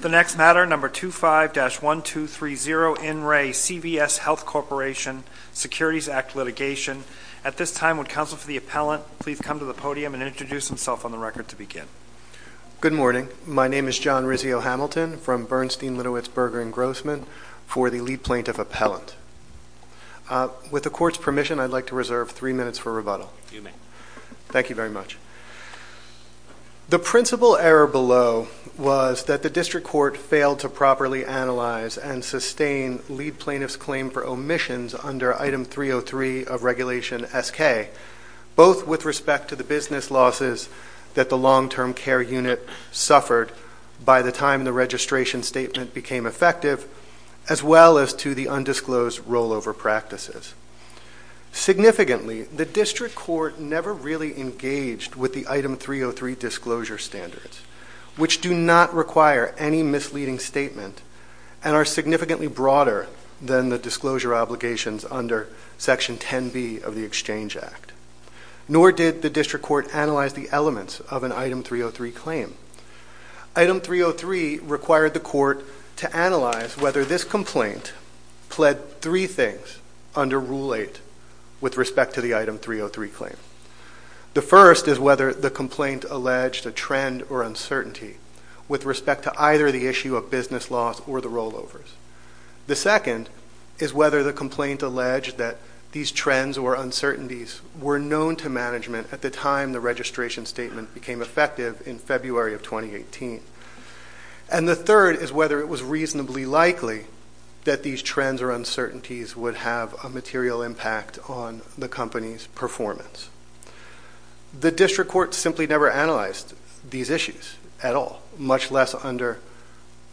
The next matter, No. 25-1230, in Re, CVS Health Corporation, Securities Act Litigation. At this time, would counsel for the appellant please come to the podium and introduce himself on the record to begin. Good morning. My name is John Rizzio-Hamilton from Bernstein, Litowitz, Berger & Grossman for the lead plaintiff appellant. With the court's permission, I'd like to reserve three minutes for rebuttal. You may. Thank you very much. The principal error below was that the district court failed to properly analyze and sustain lead plaintiff's claim for omissions under Item 303 of Regulation SK, both with respect to the business losses that the long-term care unit suffered by the time the registration statement became effective, as well as to the undisclosed rollover practices. Significantly, the district court never really engaged with the Item 303 disclosure standards, which do not require any misleading statement and are significantly broader than the disclosure obligations under Section 10b of the Exchange Act. Nor did the district court analyze the elements of an Item 303 claim. Item 303 required the court to analyze whether this complaint pled three things under Rule 8 with respect to the Item 303 claim. The first is whether the complaint alleged a trend or uncertainty with respect to either the issue of business loss or the rollovers. The second is whether the complaint alleged that these trends or uncertainties were known to management at the time the registration statement became effective in February of 2018. And the third is whether it was reasonably likely that these trends or uncertainties would have a material impact on the company's performance. The district court simply never analyzed these issues at all, much less under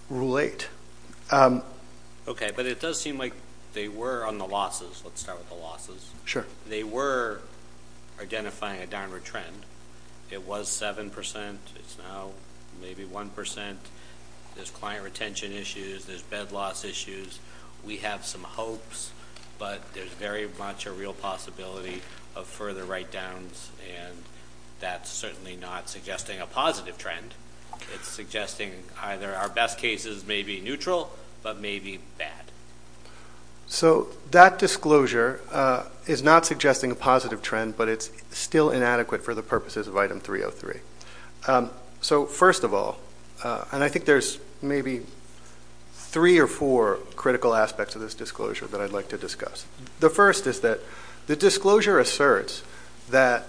Rule 8. Okay, but it does seem like they were on the losses. Let's start with the losses. Sure. They were identifying a downward trend. It was 7%. It's now maybe 1%. There's client retention issues. There's bed loss issues. We have some hopes, but there's very much a real possibility of further write-downs, and that's certainly not suggesting a positive trend. It's suggesting either our best cases may be neutral but may be bad. So that disclosure is not suggesting a positive trend, but it's still inadequate for the purposes of Item 303. So first of all, and I think there's maybe three or four critical aspects of this disclosure that I'd like to discuss. The first is that the disclosure asserts that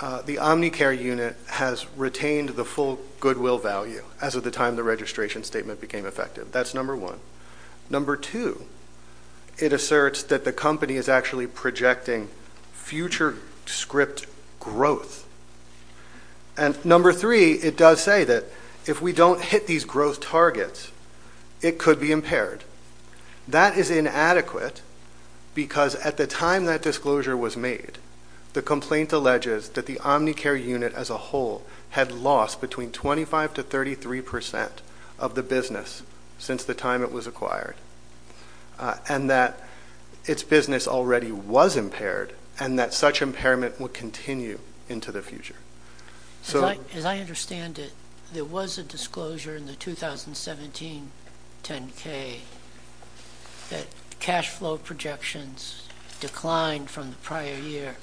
the Omnicare unit has retained the full goodwill value as of the time the registration statement became effective. That's number one. Number two, it asserts that the company is actually projecting future script growth. And number three, it does say that if we don't hit these growth targets, it could be impaired. That is inadequate because at the time that disclosure was made, the complaint alleges that the Omnicare unit as a whole had lost between 25% to 33% of the business since the time it was acquired, and that its business already was impaired and that such impairment would continue into the future. As I understand it, there was a disclosure in the 2017 10-K that cash flow projections declined from the prior year,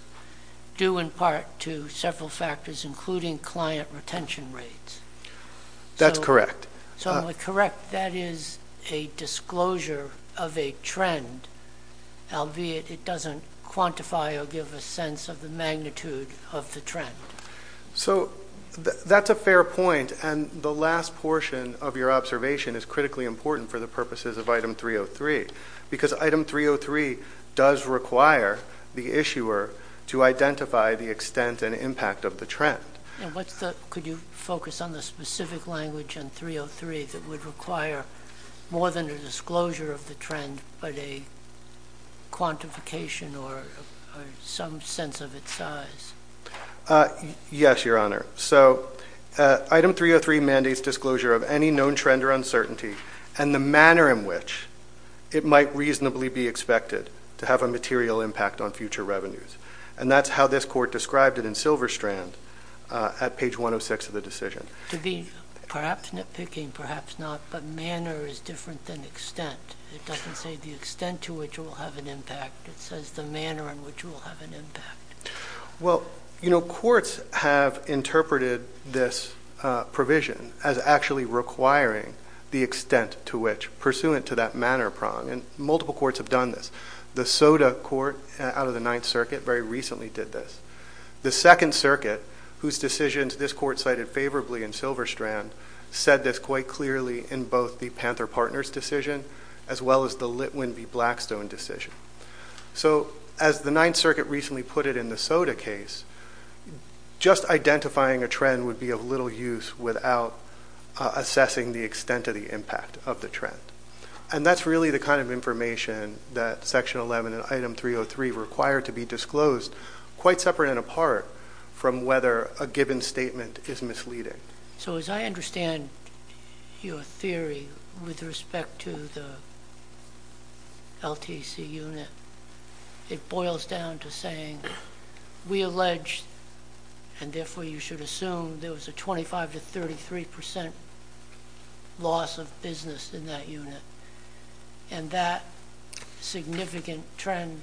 due in part to several factors, including client retention rates. That's correct. So I'm correct. That is a disclosure of a trend, albeit it doesn't quantify or give a sense of the magnitude of the trend. So that's a fair point, and the last portion of your observation is critically important for the purposes of Item 303, because Item 303 does require the issuer to identify the extent and impact of the trend. Could you focus on the specific language in 303 that would require more than a disclosure of the trend, but a quantification or some sense of its size? Yes, Your Honor. So Item 303 mandates disclosure of any known trend or uncertainty and the manner in which it might reasonably be expected to have a material impact on future revenues, and that's how this Court described it in Silverstrand at page 106 of the decision. To be perhaps nitpicking, perhaps not, but manner is different than extent. It doesn't say the extent to which it will have an impact. It says the manner in which it will have an impact. Well, you know, courts have interpreted this provision as actually requiring the extent to which, pursuant to that manner prong, and multiple courts have done this. The SOTA Court out of the Ninth Circuit very recently did this. The Second Circuit, whose decisions this Court cited favorably in Silverstrand, said this quite clearly in both the Panther Partners decision as well as the Litwin v. Blackstone decision. So as the Ninth Circuit recently put it in the SOTA case, just identifying a trend would be of little use without assessing the extent of the impact of the trend, and that's really the kind of information that Section 11 and Item 303 require to be disclosed, quite separate and apart from whether a given statement is misleading. So as I understand your theory with respect to the LTC unit, it boils down to saying we allege, and therefore you should assume, there was a 25 to 33 percent loss of business in that unit, and that significant trend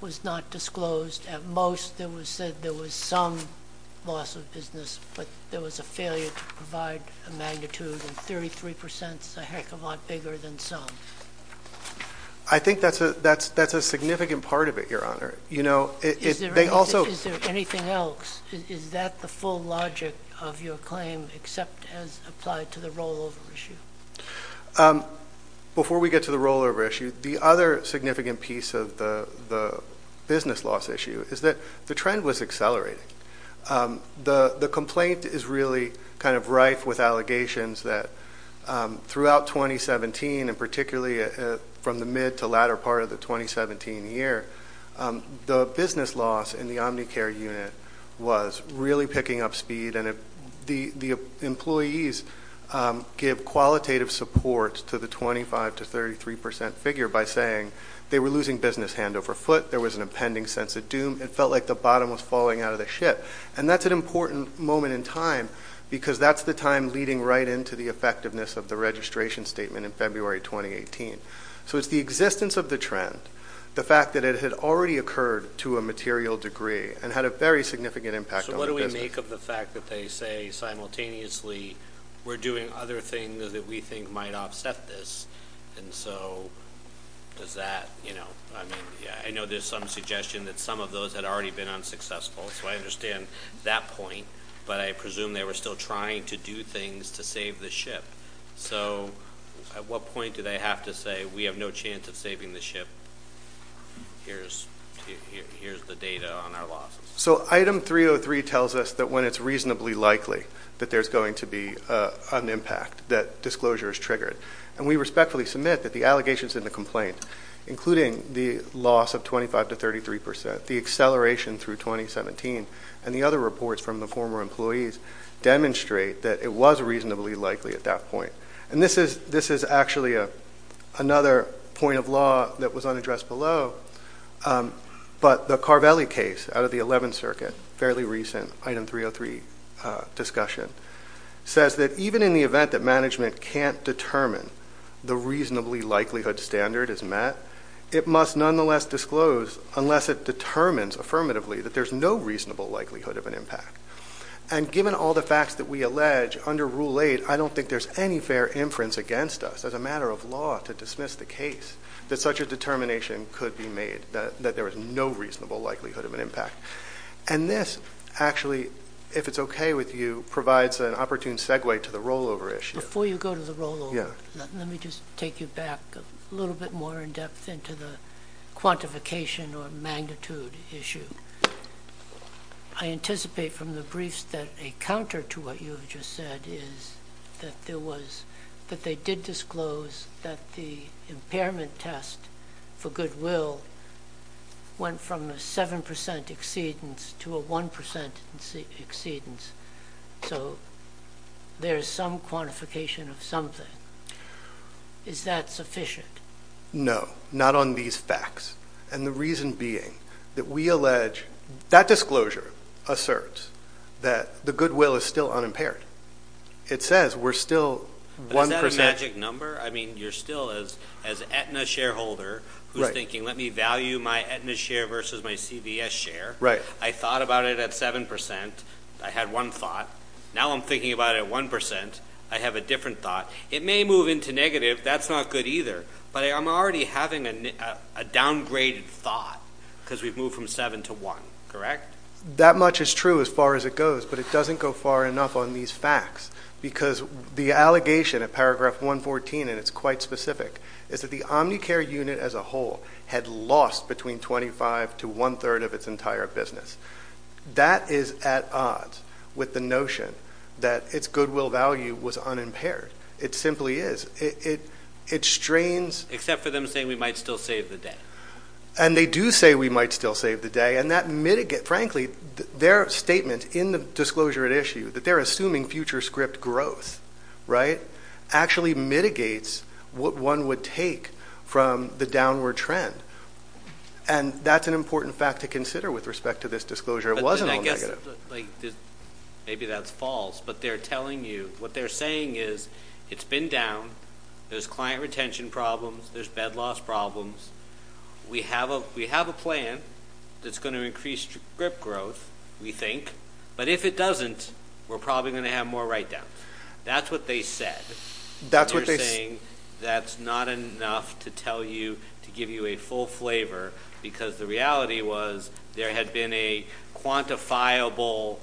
was not disclosed. At most it was said there was some loss of business, but there was a failure to provide a magnitude, and 33 percent is a heck of a lot bigger than some. I think that's a significant part of it, Your Honor. Is there anything else? Is that the full logic of your claim except as applied to the rollover issue? Before we get to the rollover issue, the other significant piece of the business loss issue is that the trend was accelerating. The complaint is really kind of rife with allegations that throughout 2017, and particularly from the mid to latter part of the 2017 year, the business loss in the Omnicare unit was really picking up speed, and the employees give qualitative support to the 25 to 33 percent figure by saying they were losing business hand over foot, there was an impending sense of doom, it felt like the bottom was falling out of the ship. And that's an important moment in time, because that's the time leading right into the effectiveness of the registration statement in February 2018. So it's the existence of the trend, the fact that it had already occurred to a material degree, and had a very significant impact on the business. So what do we make of the fact that they say simultaneously we're doing other things that we think might offset this? And so does that, you know, I know there's some suggestion that some of those had already been unsuccessful, so I understand that point, but I presume they were still trying to do things to save the ship. So at what point do they have to say we have no chance of saving the ship, here's the data on our losses? So item 303 tells us that when it's reasonably likely that there's going to be an impact, that disclosure is triggered. And we respectfully submit that the allegations in the complaint, including the loss of 25 to 33 percent, the acceleration through 2017, and the other reports from the former employees, demonstrate that it was reasonably likely at that point. And this is actually another point of law that was unaddressed below, but the Carvelli case out of the 11th Circuit, fairly recent item 303 discussion, says that even in the event that management can't determine the reasonably likelihood standard is met, it must nonetheless disclose unless it determines affirmatively that there's no reasonable likelihood of an impact. And given all the facts that we allege under Rule 8, I don't think there's any fair inference against us as a matter of law to dismiss the case that such a determination could be made, that there was no reasonable likelihood of an impact. And this actually, if it's okay with you, provides an opportune segue to the rollover issue. Before you go to the rollover, let me just take you back a little bit more in depth into the quantification or magnitude issue. I anticipate from the briefs that a counter to what you have just said is that there was, that they did disclose that the impairment test for goodwill went from a 7% exceedance to a 1% exceedance. So there's some quantification of something. Is that sufficient? No, not on these facts. And the reason being that we allege, that disclosure asserts that the goodwill is still unimpaired. It says we're still 1%. Is that a magic number? I mean, you're still as Aetna shareholder who's thinking, let me value my Aetna share versus my CVS share. Right. I thought about it at 7%. I had one thought. Now I'm thinking about it at 1%. I have a different thought. It may move into negative. That's not good either. But I'm already having a downgraded thought because we've moved from 7 to 1, correct? That much is true as far as it goes. But it doesn't go far enough on these facts because the allegation of paragraph 114, and it's quite specific, is that the Omnicare unit as a whole had lost between 25 to one-third of its entire business. That is at odds with the notion that its goodwill value was unimpaired. It simply is. It strains. Except for them saying we might still save the day. And they do say we might still save the day. And that, frankly, their statement in the disclosure at issue that they're assuming future script growth, right, actually mitigates what one would take from the downward trend. And that's an important fact to consider with respect to this disclosure. It wasn't all negative. Maybe that's false. But they're telling you, what they're saying is it's been down. There's client retention problems. There's bed loss problems. We have a plan that's going to increase script growth, we think. But if it doesn't, we're probably going to have more write-downs. That's what they said. They're saying that's not enough to tell you, to give you a full flavor, because the reality was there had been a quantifiable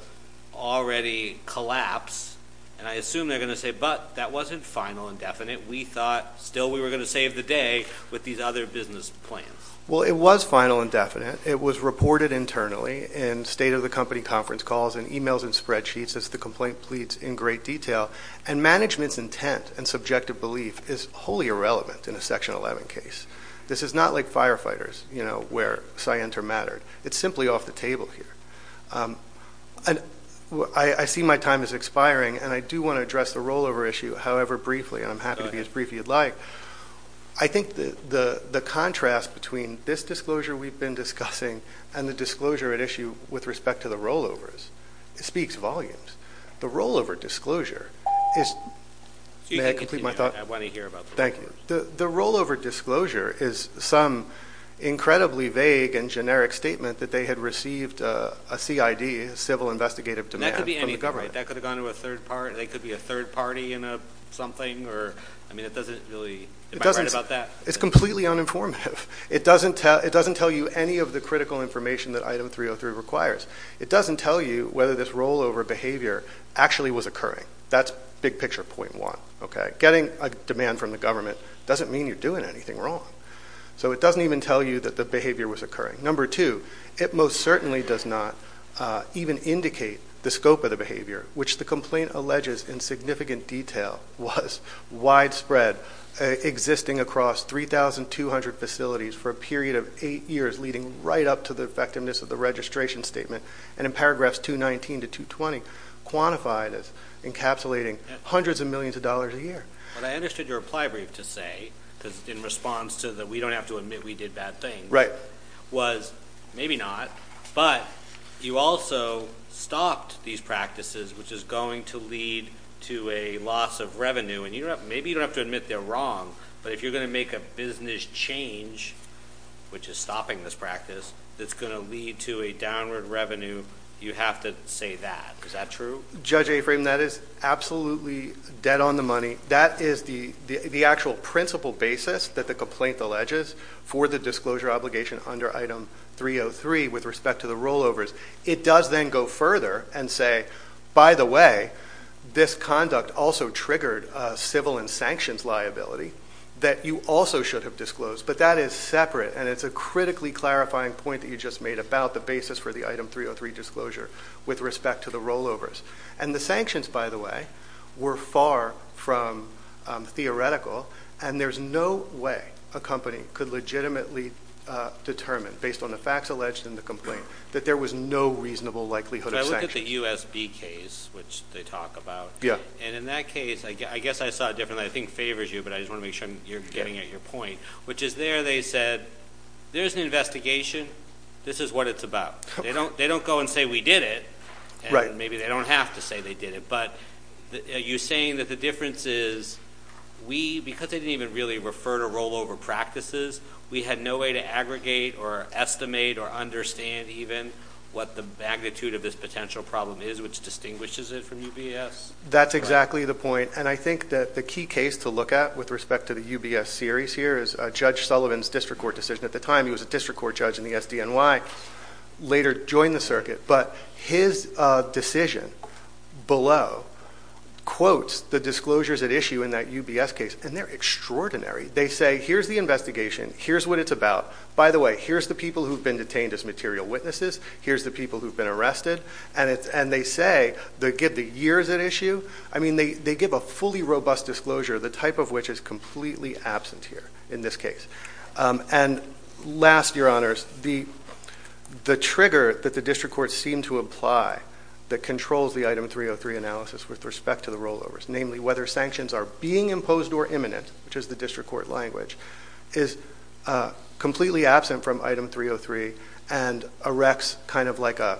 already collapse. And I assume they're going to say, but that wasn't final and definite. We thought still we were going to save the day with these other business plans. Well, it was final and definite. It was reported internally in state-of-the-company conference calls and e-mails and spreadsheets, as the complaint pleads, in great detail. And management's intent and subjective belief is wholly irrelevant in a Section 11 case. This is not like firefighters, you know, where Scienter mattered. It's simply off the table here. I see my time is expiring, and I do want to address the rollover issue, however briefly, and I'm happy to be as brief as you'd like. I think the contrast between this disclosure we've been discussing and the disclosure at issue with respect to the rollovers speaks volumes. The rollover disclosure is – may I complete my thought? I want to hear about this. Thank you. The rollover disclosure is some incredibly vague and generic statement that they had received a CID, a civil investigative demand from the government. And that could be anything, right? That could have gone to a third party, and they could be a third party in something. I mean, it doesn't really – am I right about that? It's completely uninformative. It doesn't tell you any of the critical information that Item 303 requires. It doesn't tell you whether this rollover behavior actually was occurring. That's big picture point one. Getting a demand from the government doesn't mean you're doing anything wrong. So it doesn't even tell you that the behavior was occurring. Number two, it most certainly does not even indicate the scope of the behavior, which the complaint alleges in significant detail was widespread, existing across 3,200 facilities for a period of eight years, leading right up to the effectiveness of the registration statement, and in paragraphs 219 to 220, quantified as encapsulating hundreds of millions of dollars a year. But I understood your reply brief to say, because in response to the we don't have to admit we did bad things, was maybe not, but you also stopped these practices, which is going to lead to a loss of revenue. And maybe you don't have to admit they're wrong, but if you're going to make a business change, which is stopping this practice, that's going to lead to a downward revenue, you have to say that. Is that true? Judge Afram, that is absolutely dead on the money. That is the actual principal basis that the complaint alleges for the disclosure obligation under Item 303 with respect to the rollovers. It does then go further and say, by the way, this conduct also triggered a civil and sanctions liability that you also should have disclosed. But that is separate, and it's a critically clarifying point that you just made about the basis for the Item 303 disclosure with respect to the rollovers. And the sanctions, by the way, were far from theoretical, and there's no way a company could legitimately determine, based on the facts alleged in the complaint, that there was no reasonable likelihood of sanctions. I look at the USB case, which they talk about. Yeah. And in that case, I guess I saw it differently. I think it favors you, but I just want to make sure you're getting at your point, which is there they said, there's an investigation. This is what it's about. They don't go and say we did it, and maybe they don't have to say they did it. But are you saying that the difference is we, because they didn't even really refer to rollover practices, we had no way to aggregate or estimate or understand even what the magnitude of this potential problem is, which distinguishes it from UBS? That's exactly the point. And I think that the key case to look at with respect to the UBS series here is Judge Sullivan's district court decision. At the time, he was a district court judge in the SDNY, later joined the circuit. But his decision below quotes the disclosures at issue in that UBS case, and they're extraordinary. They say here's the investigation. Here's what it's about. By the way, here's the people who have been detained as material witnesses. Here's the people who have been arrested. And they say they give the years at issue. I mean, they give a fully robust disclosure, the type of which is completely absent here in this case. And last, Your Honors, the trigger that the district courts seem to apply that controls the Item 303 analysis with respect to the rollovers, namely whether sanctions are being imposed or imminent, which is the district court language, is completely absent from Item 303 and erects kind of like a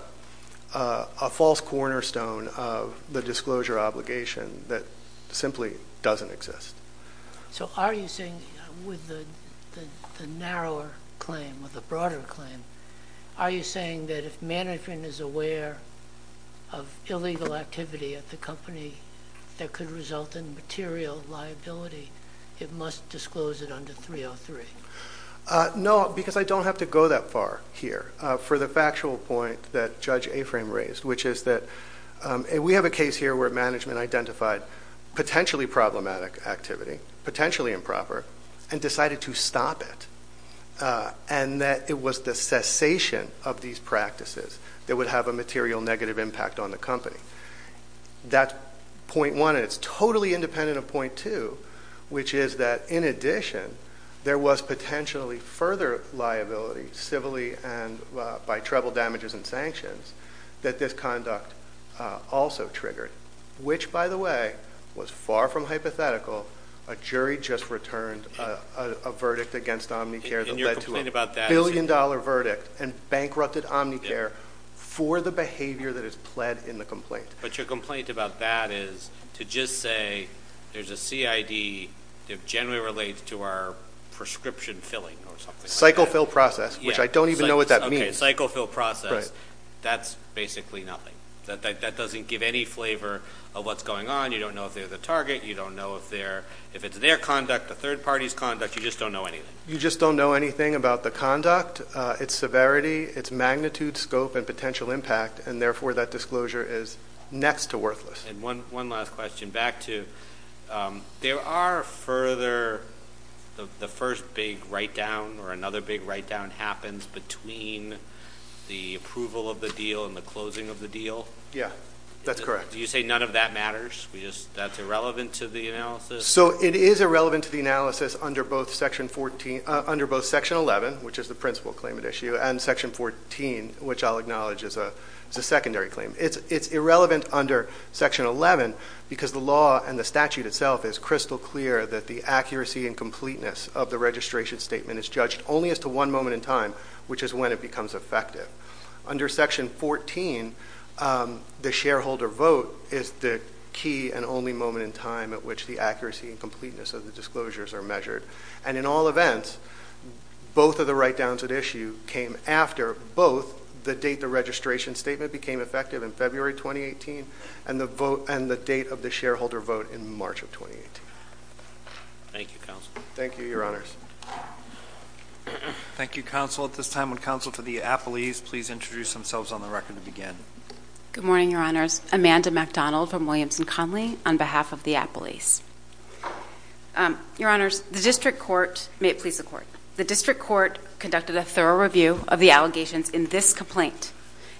false cornerstone of the disclosure obligation that simply doesn't exist. So are you saying with the narrower claim or the broader claim, are you saying that if management is aware of illegal activity at the company that could result in material liability, it must disclose it under 303? No, because I don't have to go that far here for the factual point that Judge Aframe raised, which is that we have a case here where management identified potentially problematic activity, potentially improper, and decided to stop it, and that it was the cessation of these practices that would have a material negative impact on the company. That's point one, and it's totally independent of point two, which is that, in addition, there was potentially further liability civilly and by treble damages and sanctions that this conduct also triggered, which, by the way, was far from hypothetical. A jury just returned a verdict against Omnicare that led to a billion-dollar verdict and bankrupted Omnicare for the behavior that is pled in the complaint. But your complaint about that is to just say there's a CID that generally relates to our prescription filling or something like that? Cycle fill process, which I don't even know what that means. Okay, cycle fill process. Right. That's basically nothing. That doesn't give any flavor of what's going on. You don't know if they're the target. You don't know if it's their conduct, a third party's conduct. You just don't know anything. You just don't know anything about the conduct, its severity, its magnitude, scope, and potential impact, and, therefore, that disclosure is next to worthless. And one last question, back to, there are further, the first big write-down or another big write-down happens between the approval of the deal and the closing of the deal? Yeah, that's correct. Do you say none of that matters? That's irrelevant to the analysis? So it is irrelevant to the analysis under both Section 11, which is the principal claim at issue, and Section 14, which I'll acknowledge is a secondary claim. It's irrelevant under Section 11 because the law and the statute itself is crystal clear that the accuracy and completeness of the registration statement is judged only as to one moment in time, which is when it becomes effective. Under Section 14, the shareholder vote is the key and only moment in time at which the accuracy and completeness of the disclosures are measured. And in all events, both of the write-downs at issue came after both the date the registration statement became effective in February 2018 and the date of the shareholder vote in March of 2018. Thank you, Counsel. Thank you, Your Honors. Thank you, Counsel. At this time, would Counsel for the Appellees please introduce themselves on the record to begin? Good morning, Your Honors. Amanda MacDonald from Williams & Connolly on behalf of the Appellees. Your Honors, the District Court conducted a thorough review of the allegations in this complaint,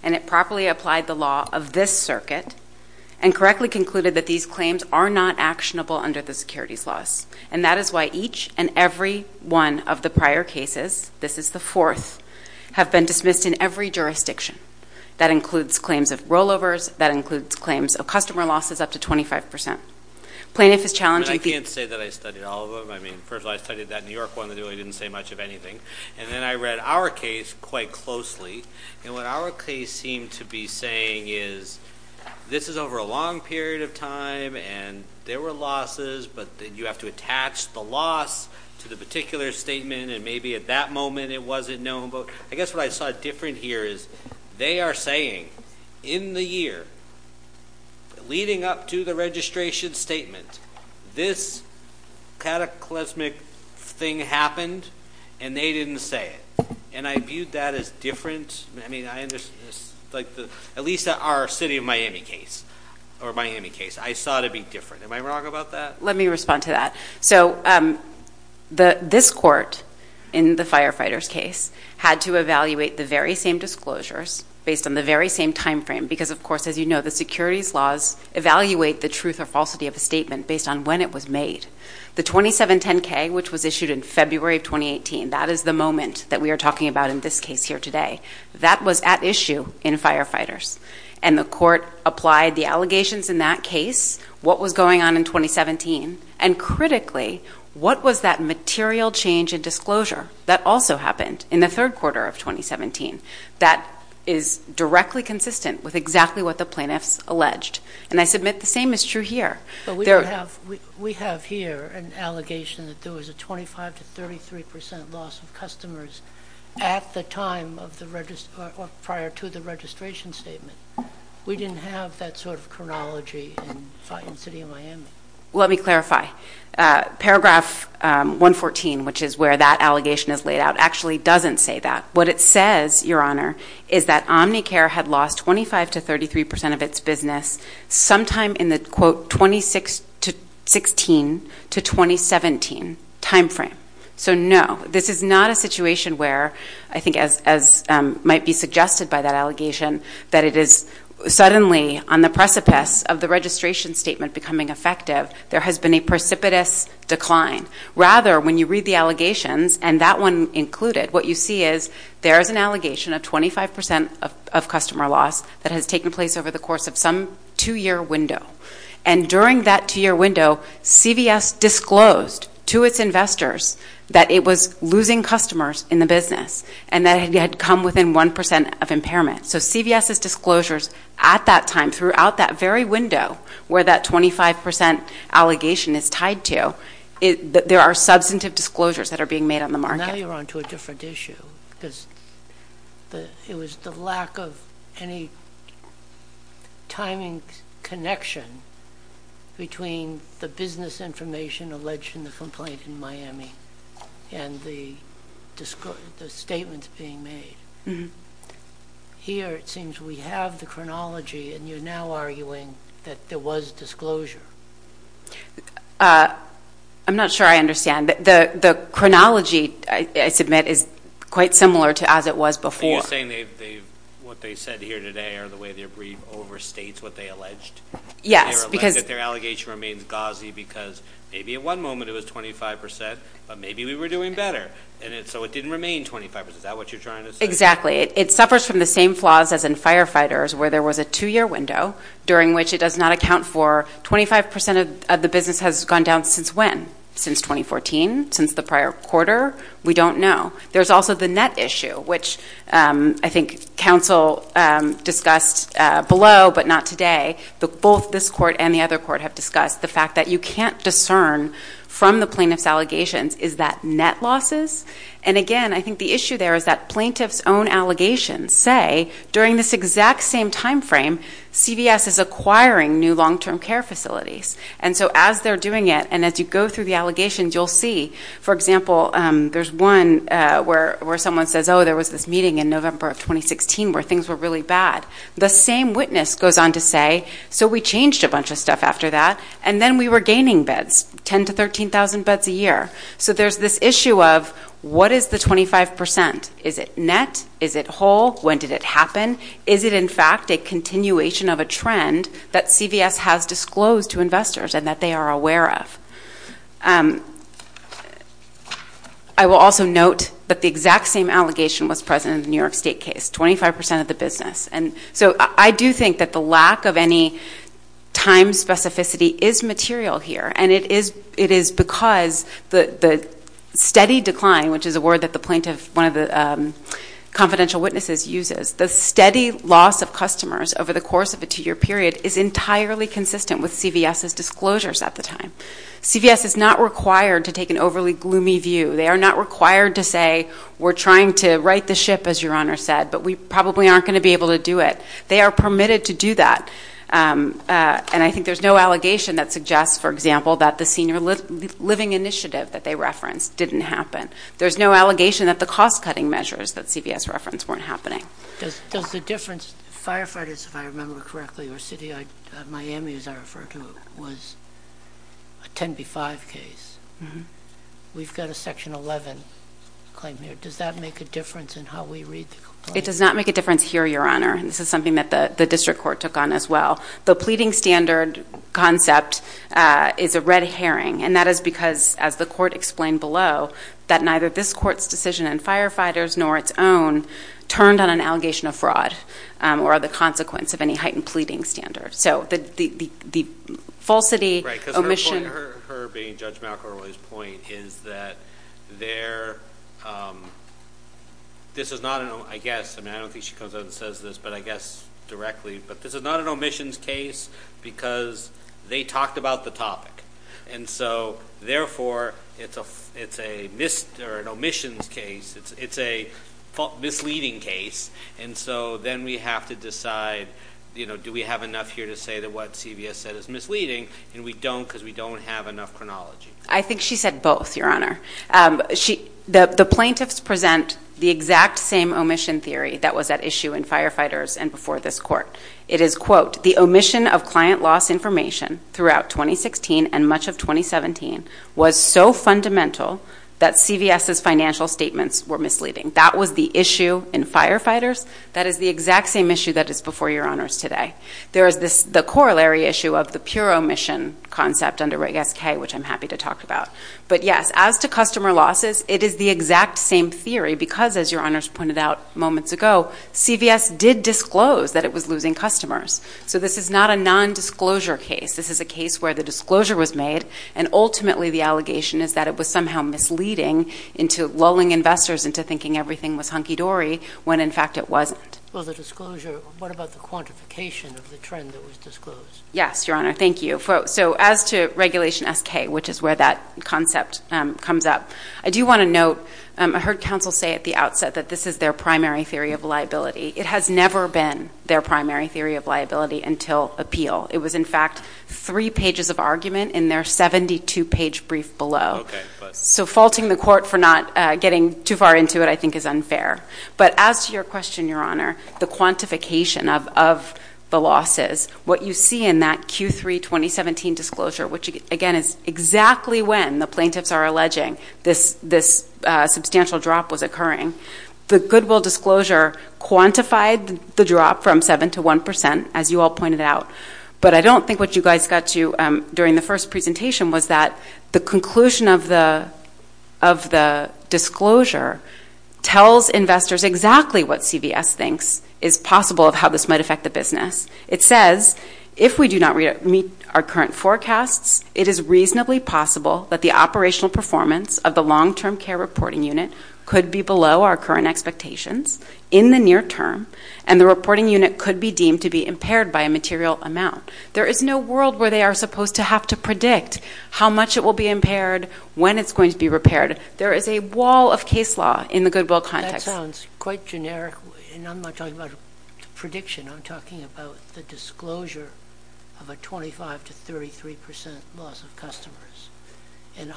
and it properly applied the law of this circuit and correctly concluded that these claims are not actionable under the securities laws. And that is why each and every one of the prior cases, this is the fourth, have been dismissed in every jurisdiction. That includes claims of rollovers. That includes claims of customer losses up to 25%. Plaintiff is challenging the- I can't say that I studied all of them. I mean, first of all, I studied that New York one that really didn't say much of anything. And then I read our case quite closely. And what our case seemed to be saying is this is over a long period of time, and there were losses, but you have to attach the loss to the particular statement, and maybe at that moment it wasn't known. But I guess what I saw different here is they are saying in the year leading up to the registration statement, this cataclysmic thing happened, and they didn't say it. And I viewed that as different. I mean, I understood this. At least our City of Miami case, or Miami case, I saw it to be different. Am I wrong about that? Let me respond to that. So this court in the firefighters case had to evaluate the very same disclosures based on the very same time frame because, of course, as you know, the securities laws evaluate the truth or falsity of a statement based on when it was made. The 2710K, which was issued in February of 2018, that is the moment that we are talking about in this case here today, that was at issue in firefighters. And the court applied the allegations in that case, what was going on in 2017, and critically, what was that material change in disclosure that also happened in the third quarter of 2017 that is directly consistent with exactly what the plaintiffs alleged? And I submit the same is true here. We have here an allegation that there was a 25 to 33 percent loss of customers at the time prior to the registration statement. We didn't have that sort of chronology in City of Miami. Let me clarify. Paragraph 114, which is where that allegation is laid out, actually doesn't say that. What it says, Your Honor, is that Omnicare had lost 25 to 33 percent of its business sometime in the, quote, 2016 to 2017 time frame. So, no, this is not a situation where, I think as might be suggested by that allegation, that it is suddenly on the precipice of the registration statement becoming effective. There has been a precipitous decline. Rather, when you read the allegations, and that one included, what you see is there is an allegation of 25 percent of customer loss that has taken place over the course of some two-year window. And during that two-year window, CVS disclosed to its investors that it was losing customers in the business and that it had come within one percent of impairment. So CVS's disclosures at that time throughout that very window where that 25 percent allegation is tied to, there are substantive disclosures that are being made on the market. Now you're on to a different issue because it was the lack of any timing connection between the business information alleged in the complaint in Miami and the statements being made. Here it seems we have the chronology, and you're now arguing that there was disclosure. I'm not sure I understand. The chronology, I submit, is quite similar to as it was before. Are you saying what they said here today are the way their brief overstates what they alleged? Yes. That their allegation remains gauzy because maybe at one moment it was 25 percent, but maybe we were doing better, and so it didn't remain 25 percent. Is that what you're trying to say? Exactly. It suffers from the same flaws as in firefighters where there was a two-year window during which it does not account for 25 percent of the business has gone down since when? Since 2014? Since the prior quarter? We don't know. There's also the net issue, which I think counsel discussed below but not today. Both this court and the other court have discussed the fact that you can't discern from the plaintiff's allegations, is that net losses? Again, I think the issue there is that plaintiff's own allegations say during this exact same timeframe, CVS is acquiring new long-term care facilities. And so as they're doing it and as you go through the allegations, you'll see, for example, there's one where someone says, oh, there was this meeting in November of 2016 where things were really bad. The same witness goes on to say, so we changed a bunch of stuff after that, and then we were gaining beds, 10,000 to 13,000 beds a year. So there's this issue of what is the 25 percent? Is it net? Is it whole? When did it happen? Is it, in fact, a continuation of a trend that CVS has disclosed to investors and that they are aware of? I will also note that the exact same allegation was present in the New York State case, 25 percent of the business. And so I do think that the lack of any time specificity is material here, and it is because the steady decline, which is a word that the plaintiff, one of the confidential witnesses uses, the steady loss of customers over the course of a two-year period is entirely consistent with CVS's disclosures at the time. CVS is not required to take an overly gloomy view. They are not required to say, we're trying to right the ship, as your Honor said, but we probably aren't going to be able to do it. They are permitted to do that. And I think there's no allegation that suggests, for example, that the senior living initiative that they referenced didn't happen. There's no allegation that the cost-cutting measures that CVS referenced weren't happening. Does the difference, firefighters, if I remember correctly, or city, Miami, as I refer to it, was a 10B-5 case. We've got a Section 11 claim here. Does that make a difference in how we read the complaint? It does not make a difference here, your Honor. And this is something that the district court took on as well. The pleading standard concept is a red herring, and that is because, as the court explained below, that neither this court's decision on firefighters nor its own turned on an allegation of fraud or the consequence of any heightened pleading standard. So the falsity, omission. Her being Judge McElroy's point is that this is not an omission case because they talked about the topic. And so, therefore, it's an omission case. It's a misleading case. And so then we have to decide, you know, do we have enough here to say that what CVS said is misleading? And we don't because we don't have enough chronology. I think she said both, your Honor. The plaintiffs present the exact same omission theory that was at issue in firefighters and before this court. It is, quote, the omission of client loss information throughout 2016 and much of 2017 was so fundamental that CVS's financial statements were misleading. That was the issue in firefighters. That is the exact same issue that is before your Honors today. There is the corollary issue of the pure omission concept under Reg SK, which I'm happy to talk about. But, yes, as to customer losses, it is the exact same theory because, as your Honors pointed out moments ago, CVS did disclose that it was losing customers. So this is not a nondisclosure case. This is a case where the disclosure was made and ultimately the allegation is that it was somehow misleading into lulling investors into thinking everything was hunky-dory when, in fact, it wasn't. Well, the disclosure, what about the quantification of the trend that was disclosed? Yes, your Honor. Thank you. So as to Regulation SK, which is where that concept comes up, I do want to note, I heard counsel say at the outset that this is their primary theory of liability. It has never been their primary theory of liability until appeal. It was, in fact, three pages of argument in their 72-page brief below. So faulting the court for not getting too far into it, I think, is unfair. But as to your question, your Honor, the quantification of the losses, what you see in that Q3 2017 disclosure, which, again, is exactly when the plaintiffs are alleging this substantial drop was occurring, the Goodwill disclosure quantified the drop from 7% to 1%, as you all pointed out. But I don't think what you guys got to during the first presentation was that the conclusion of the disclosure tells investors exactly what CVS thinks is possible of how this might affect the business. It says, if we do not meet our current forecasts, it is reasonably possible that the operational performance of the long-term care reporting unit could be below our current expectations in the near term, and the reporting unit could be deemed to be impaired by a material amount. There is no world where they are supposed to have to predict how much it will be impaired, when it's going to be repaired. There is a wall of case law in the Goodwill context. That sounds quite generic, and I'm not talking about prediction. I'm talking about the disclosure of a 25% to 33% loss of customers. And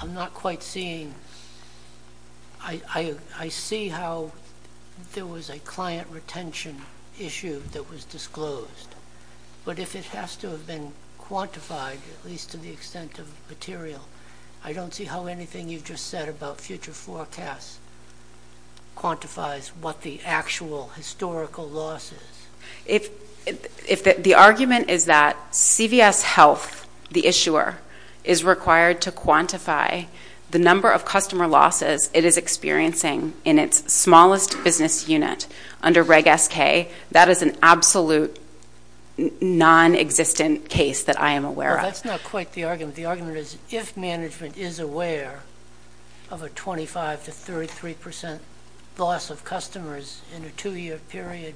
I'm not quite seeing – I see how there was a client retention issue that was disclosed. But if it has to have been quantified, at least to the extent of material, I don't see how anything you've just said about future forecasts quantifies what the actual historical loss is. The argument is that CVS Health, the issuer, is required to quantify the number of customer losses it is experiencing in its smallest business unit under Reg SK. That is an absolute non-existent case that I am aware of. That's not quite the argument. The argument is, if management is aware of a 25% to 33% loss of customers in a two-year period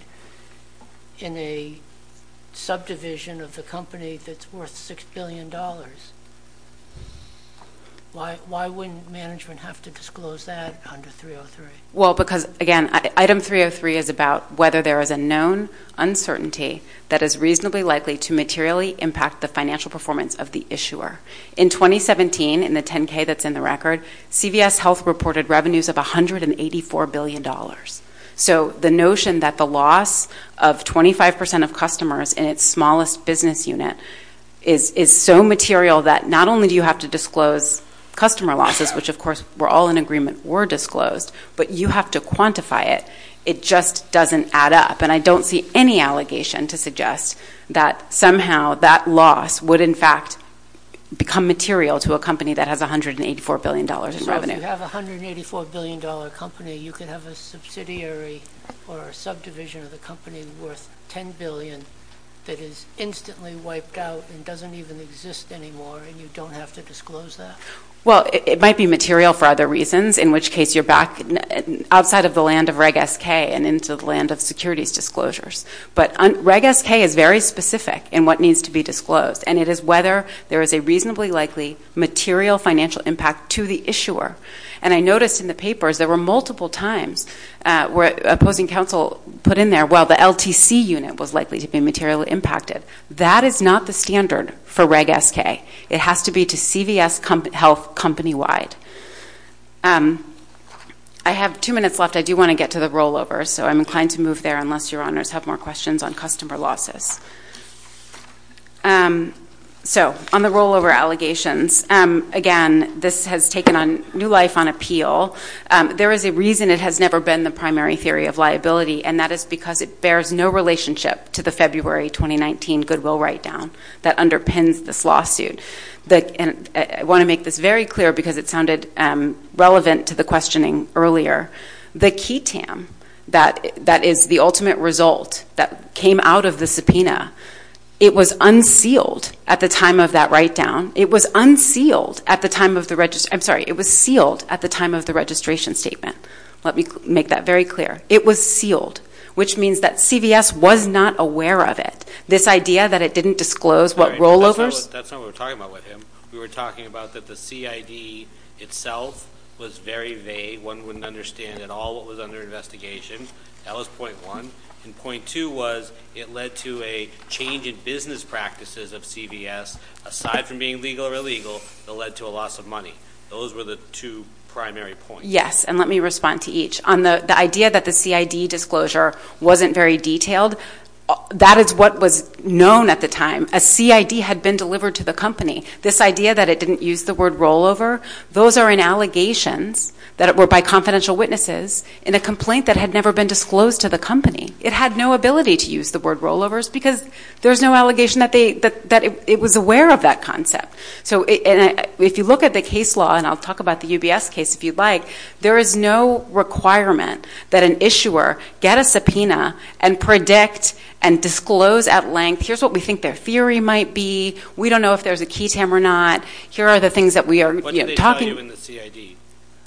in a subdivision of the company that's worth $6 billion, why wouldn't management have to disclose that under 303? Well, because, again, Item 303 is about whether there is a known uncertainty that is reasonably likely to materially impact the financial performance of the issuer. In 2017, in the 10-K that's in the record, CVS Health reported revenues of $184 billion. So the notion that the loss of 25% of customers in its smallest business unit is so material that not only do you have to disclose customer losses, which, of course, were all in agreement were disclosed, but you have to quantify it, it just doesn't add up. And I don't see any allegation to suggest that somehow that loss would, in fact, become material to a company that has $184 billion in revenue. So if you have a $184 billion company, you could have a subsidiary or a subdivision of the company worth $10 billion that is instantly wiped out and doesn't even exist anymore, and you don't have to disclose that? Well, it might be material for other reasons, in which case you're back outside of the land of Reg SK and into the land of securities disclosures. But Reg SK is very specific in what needs to be disclosed, and it is whether there is a reasonably likely material financial impact to the issuer. And I noticed in the papers there were multiple times where opposing counsel put in there, well, the LTC unit was likely to be materially impacted. That is not the standard for Reg SK. It has to be to CVS Health company-wide. I have two minutes left. I do want to get to the rollovers, so I'm inclined to move there, unless your honors have more questions on customer losses. So on the rollover allegations, again, this has taken new life on appeal. There is a reason it has never been the primary theory of liability, and that is because it bears no relationship to the February 2019 goodwill write-down that underpins this lawsuit. I want to make this very clear because it sounded relevant to the questioning earlier. The QTAM, that is the ultimate result that came out of the subpoena, it was unsealed at the time of that write-down. It was unsealed at the time of the registration statement. Let me make that very clear. It was sealed, which means that CVS was not aware of it. This idea that it didn't disclose what rollovers? That's not what we're talking about with him. We were talking about that the CID itself was very vague. One wouldn't understand at all what was under investigation. That was point one. And point two was it led to a change in business practices of CVS. Aside from being legal or illegal, it led to a loss of money. Those were the two primary points. Yes, and let me respond to each. The idea that the CID disclosure wasn't very detailed, that is what was known at the time. A CID had been delivered to the company. This idea that it didn't use the word rollover, those are in allegations that were by confidential witnesses in a complaint that had never been disclosed to the company. It had no ability to use the word rollovers because there's no allegation that it was aware of that concept. If you look at the case law, and I'll talk about the UBS case if you'd like, there is no requirement that an issuer get a subpoena and predict and disclose at length, here's what we think their theory might be. We don't know if there's a key tam or not. Here are the things that we are talking about. What did they tell you in the CID?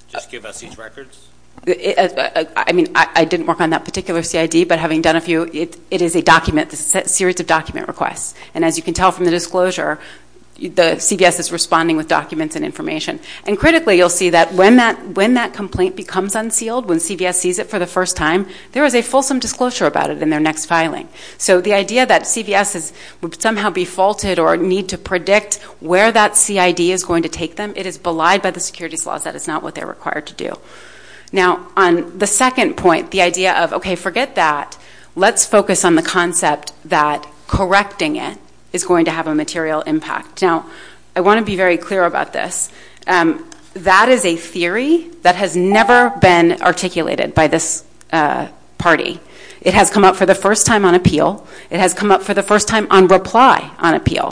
Just give us each records? I mean, I didn't work on that particular CID, but having done a few, it is a document. It's a series of document requests. And as you can tell from the disclosure, the CVS is responding with documents and information. And critically, you'll see that when that complaint becomes unsealed, when CVS sees it for the first time, there is a fulsome disclosure about it in their next filing. So the idea that CVS would somehow be faulted or need to predict where that CID is going to take them, it is belied by the securities laws. That is not what they're required to do. Now, on the second point, the idea of, okay, forget that. Let's focus on the concept that correcting it is going to have a material impact. Now, I want to be very clear about this. That is a theory that has never been articulated by this party. It has come up for the first time on appeal. It has come up for the first time on reply on appeal,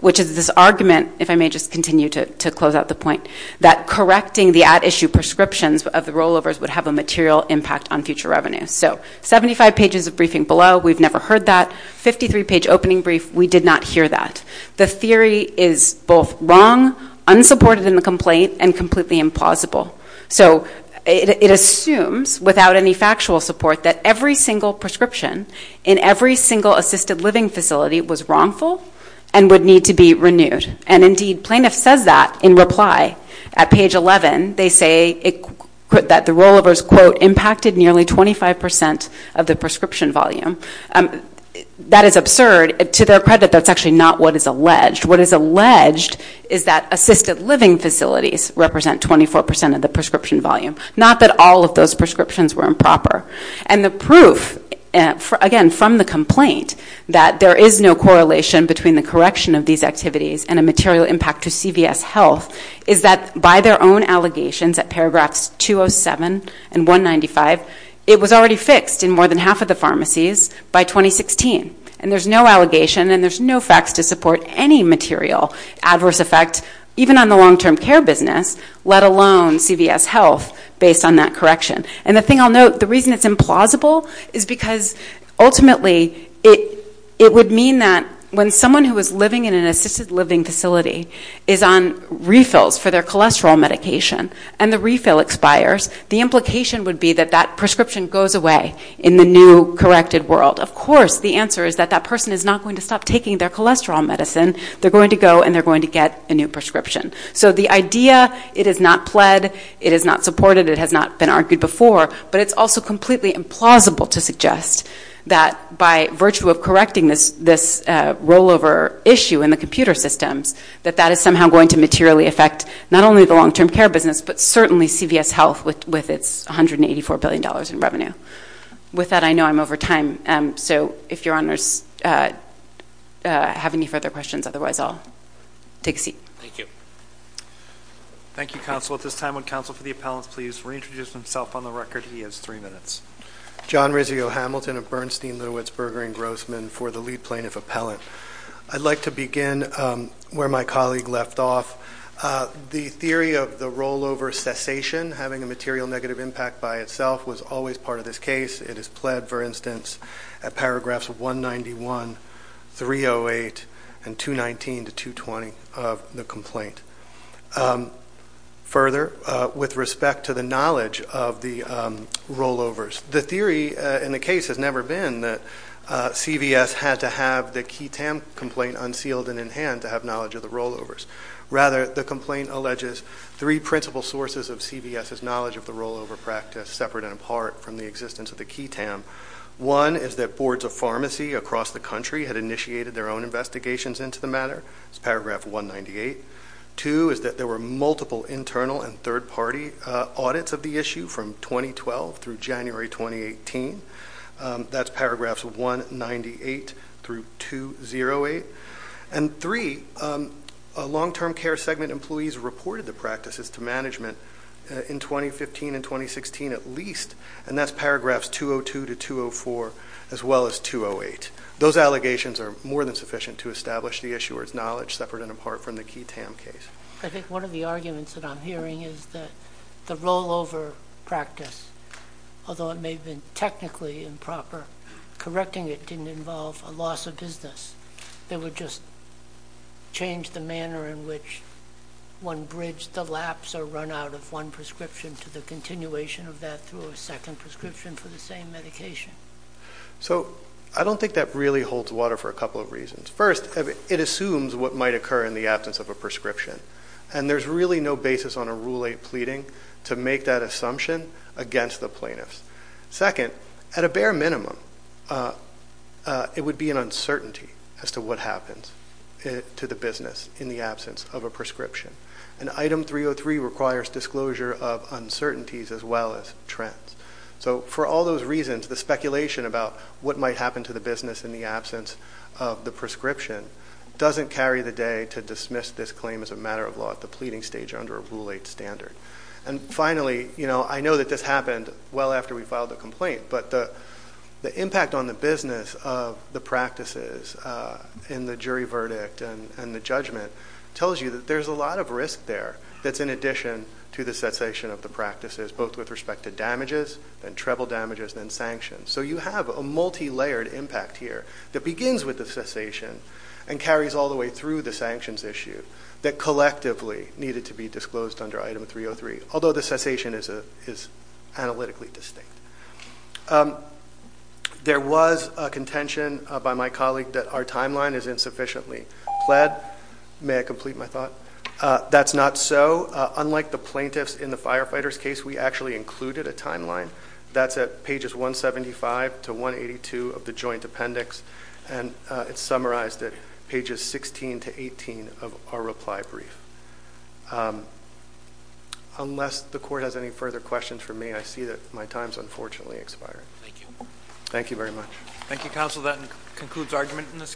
which is this argument, if I may just continue to close out the point, that correcting the at-issue prescriptions of the rollovers would have a material impact on future revenue. So 75 pages of briefing below, we've never heard that. 53-page opening brief, we did not hear that. The theory is both wrong, unsupported in the complaint, and completely implausible. So it assumes, without any factual support, that every single prescription in every single assisted living facility was wrongful and would need to be renewed. And indeed, plaintiff says that in reply at page 11. They say that the rollovers, quote, impacted nearly 25% of the prescription volume. That is absurd. To their credit, that's actually not what is alleged. What is alleged is that assisted living facilities represent 24% of the prescription volume. Not that all of those prescriptions were improper. And the proof, again, from the complaint, that there is no correlation between the correction of these activities and a material impact to CVS health, is that by their own allegations at paragraphs 207 and 195, it was already fixed in more than half of the pharmacies by 2016. And there's no allegation and there's no facts to support any material adverse effect, even on the long-term care business, let alone CVS health, based on that correction. And the thing I'll note, the reason it's implausible is because, ultimately, it would mean that when someone who is living in an assisted living facility is on refills for their cholesterol medication and the refill expires, the implication would be that that prescription goes away in the new corrected world. Of course, the answer is that that person is not going to stop taking their cholesterol medicine. They're going to go and they're going to get a new prescription. So the idea, it is not pled, it is not supported, it has not been argued before, but it's also completely implausible to suggest that by virtue of correcting this rollover issue in the computer systems, that that is somehow going to materially affect not only the long-term care business, but certainly CVS health with its $184 billion in revenue. With that, I know I'm over time. So if your honors have any further questions, otherwise I'll take a seat. Thank you. Thank you, counsel. At this time, would counsel for the appellants please reintroduce himself on the record? He has three minutes. John Rizzio-Hamilton of Bernstein, Litowitz, Berger, and Grossman for the lead plaintiff appellant. I'd like to begin where my colleague left off. The theory of the rollover cessation having a material negative impact by itself was always part of this case. It is pled, for instance, at paragraphs 191, 308, and 219 to 220 of the complaint. Further, with respect to the knowledge of the rollovers, the theory in the case has never been that CVS had to have the QTAM complaint unsealed and in hand to have knowledge of the rollovers. Rather, the complaint alleges three principal sources of CVS's knowledge of the rollover practice, separate and apart from the existence of the QTAM. One is that boards of pharmacy across the country had initiated their own investigations into the matter. That's paragraph 198. Two is that there were multiple internal and third-party audits of the issue from 2012 through January 2018. That's paragraphs 198 through 208. And three, long-term care segment employees reported the practices to management in 2015 and 2016 at least, and that's paragraphs 202 to 204 as well as 208. Those allegations are more than sufficient to establish the issuer's knowledge separate and apart from the QTAM case. I think one of the arguments that I'm hearing is that the rollover practice, although it may have been technically improper, correcting it didn't involve a loss of business. They would just change the manner in which one bridged the lapse or run out of one prescription to the continuation of that through a second prescription for the same medication. So I don't think that really holds water for a couple of reasons. First, it assumes what might occur in the absence of a prescription, and there's really no basis on a Rule 8 pleading to make that assumption against the plaintiffs. Second, at a bare minimum, it would be an uncertainty as to what happens to the business in the absence of a prescription. And Item 303 requires disclosure of uncertainties as well as trends. So for all those reasons, the speculation about what might happen to the business in the absence of the prescription doesn't carry the day to dismiss this claim as a matter of law at the pleading stage under a Rule 8 standard. And finally, you know, I know that this happened well after we filed the complaint, but the impact on the business of the practices in the jury verdict and the judgment tells you that there's a lot of risk there that's in addition to the cessation of the practices, both with respect to damages and treble damages and sanctions. So you have a multilayered impact here that begins with the cessation and carries all the way through the sanctions issue that collectively needed to be disclosed under Item 303, although the cessation is analytically distinct. There was a contention by my colleague that our timeline is insufficiently pled. May I complete my thought? That's not so. Unlike the plaintiffs in the firefighters' case, we actually included a timeline. That's at pages 175 to 182 of the joint appendix, and it's summarized at pages 16 to 18 of our reply brief. Unless the court has any further questions for me, I see that my time is unfortunately expiring. Thank you. Thank you very much. Thank you, counsel. That concludes argument in this case.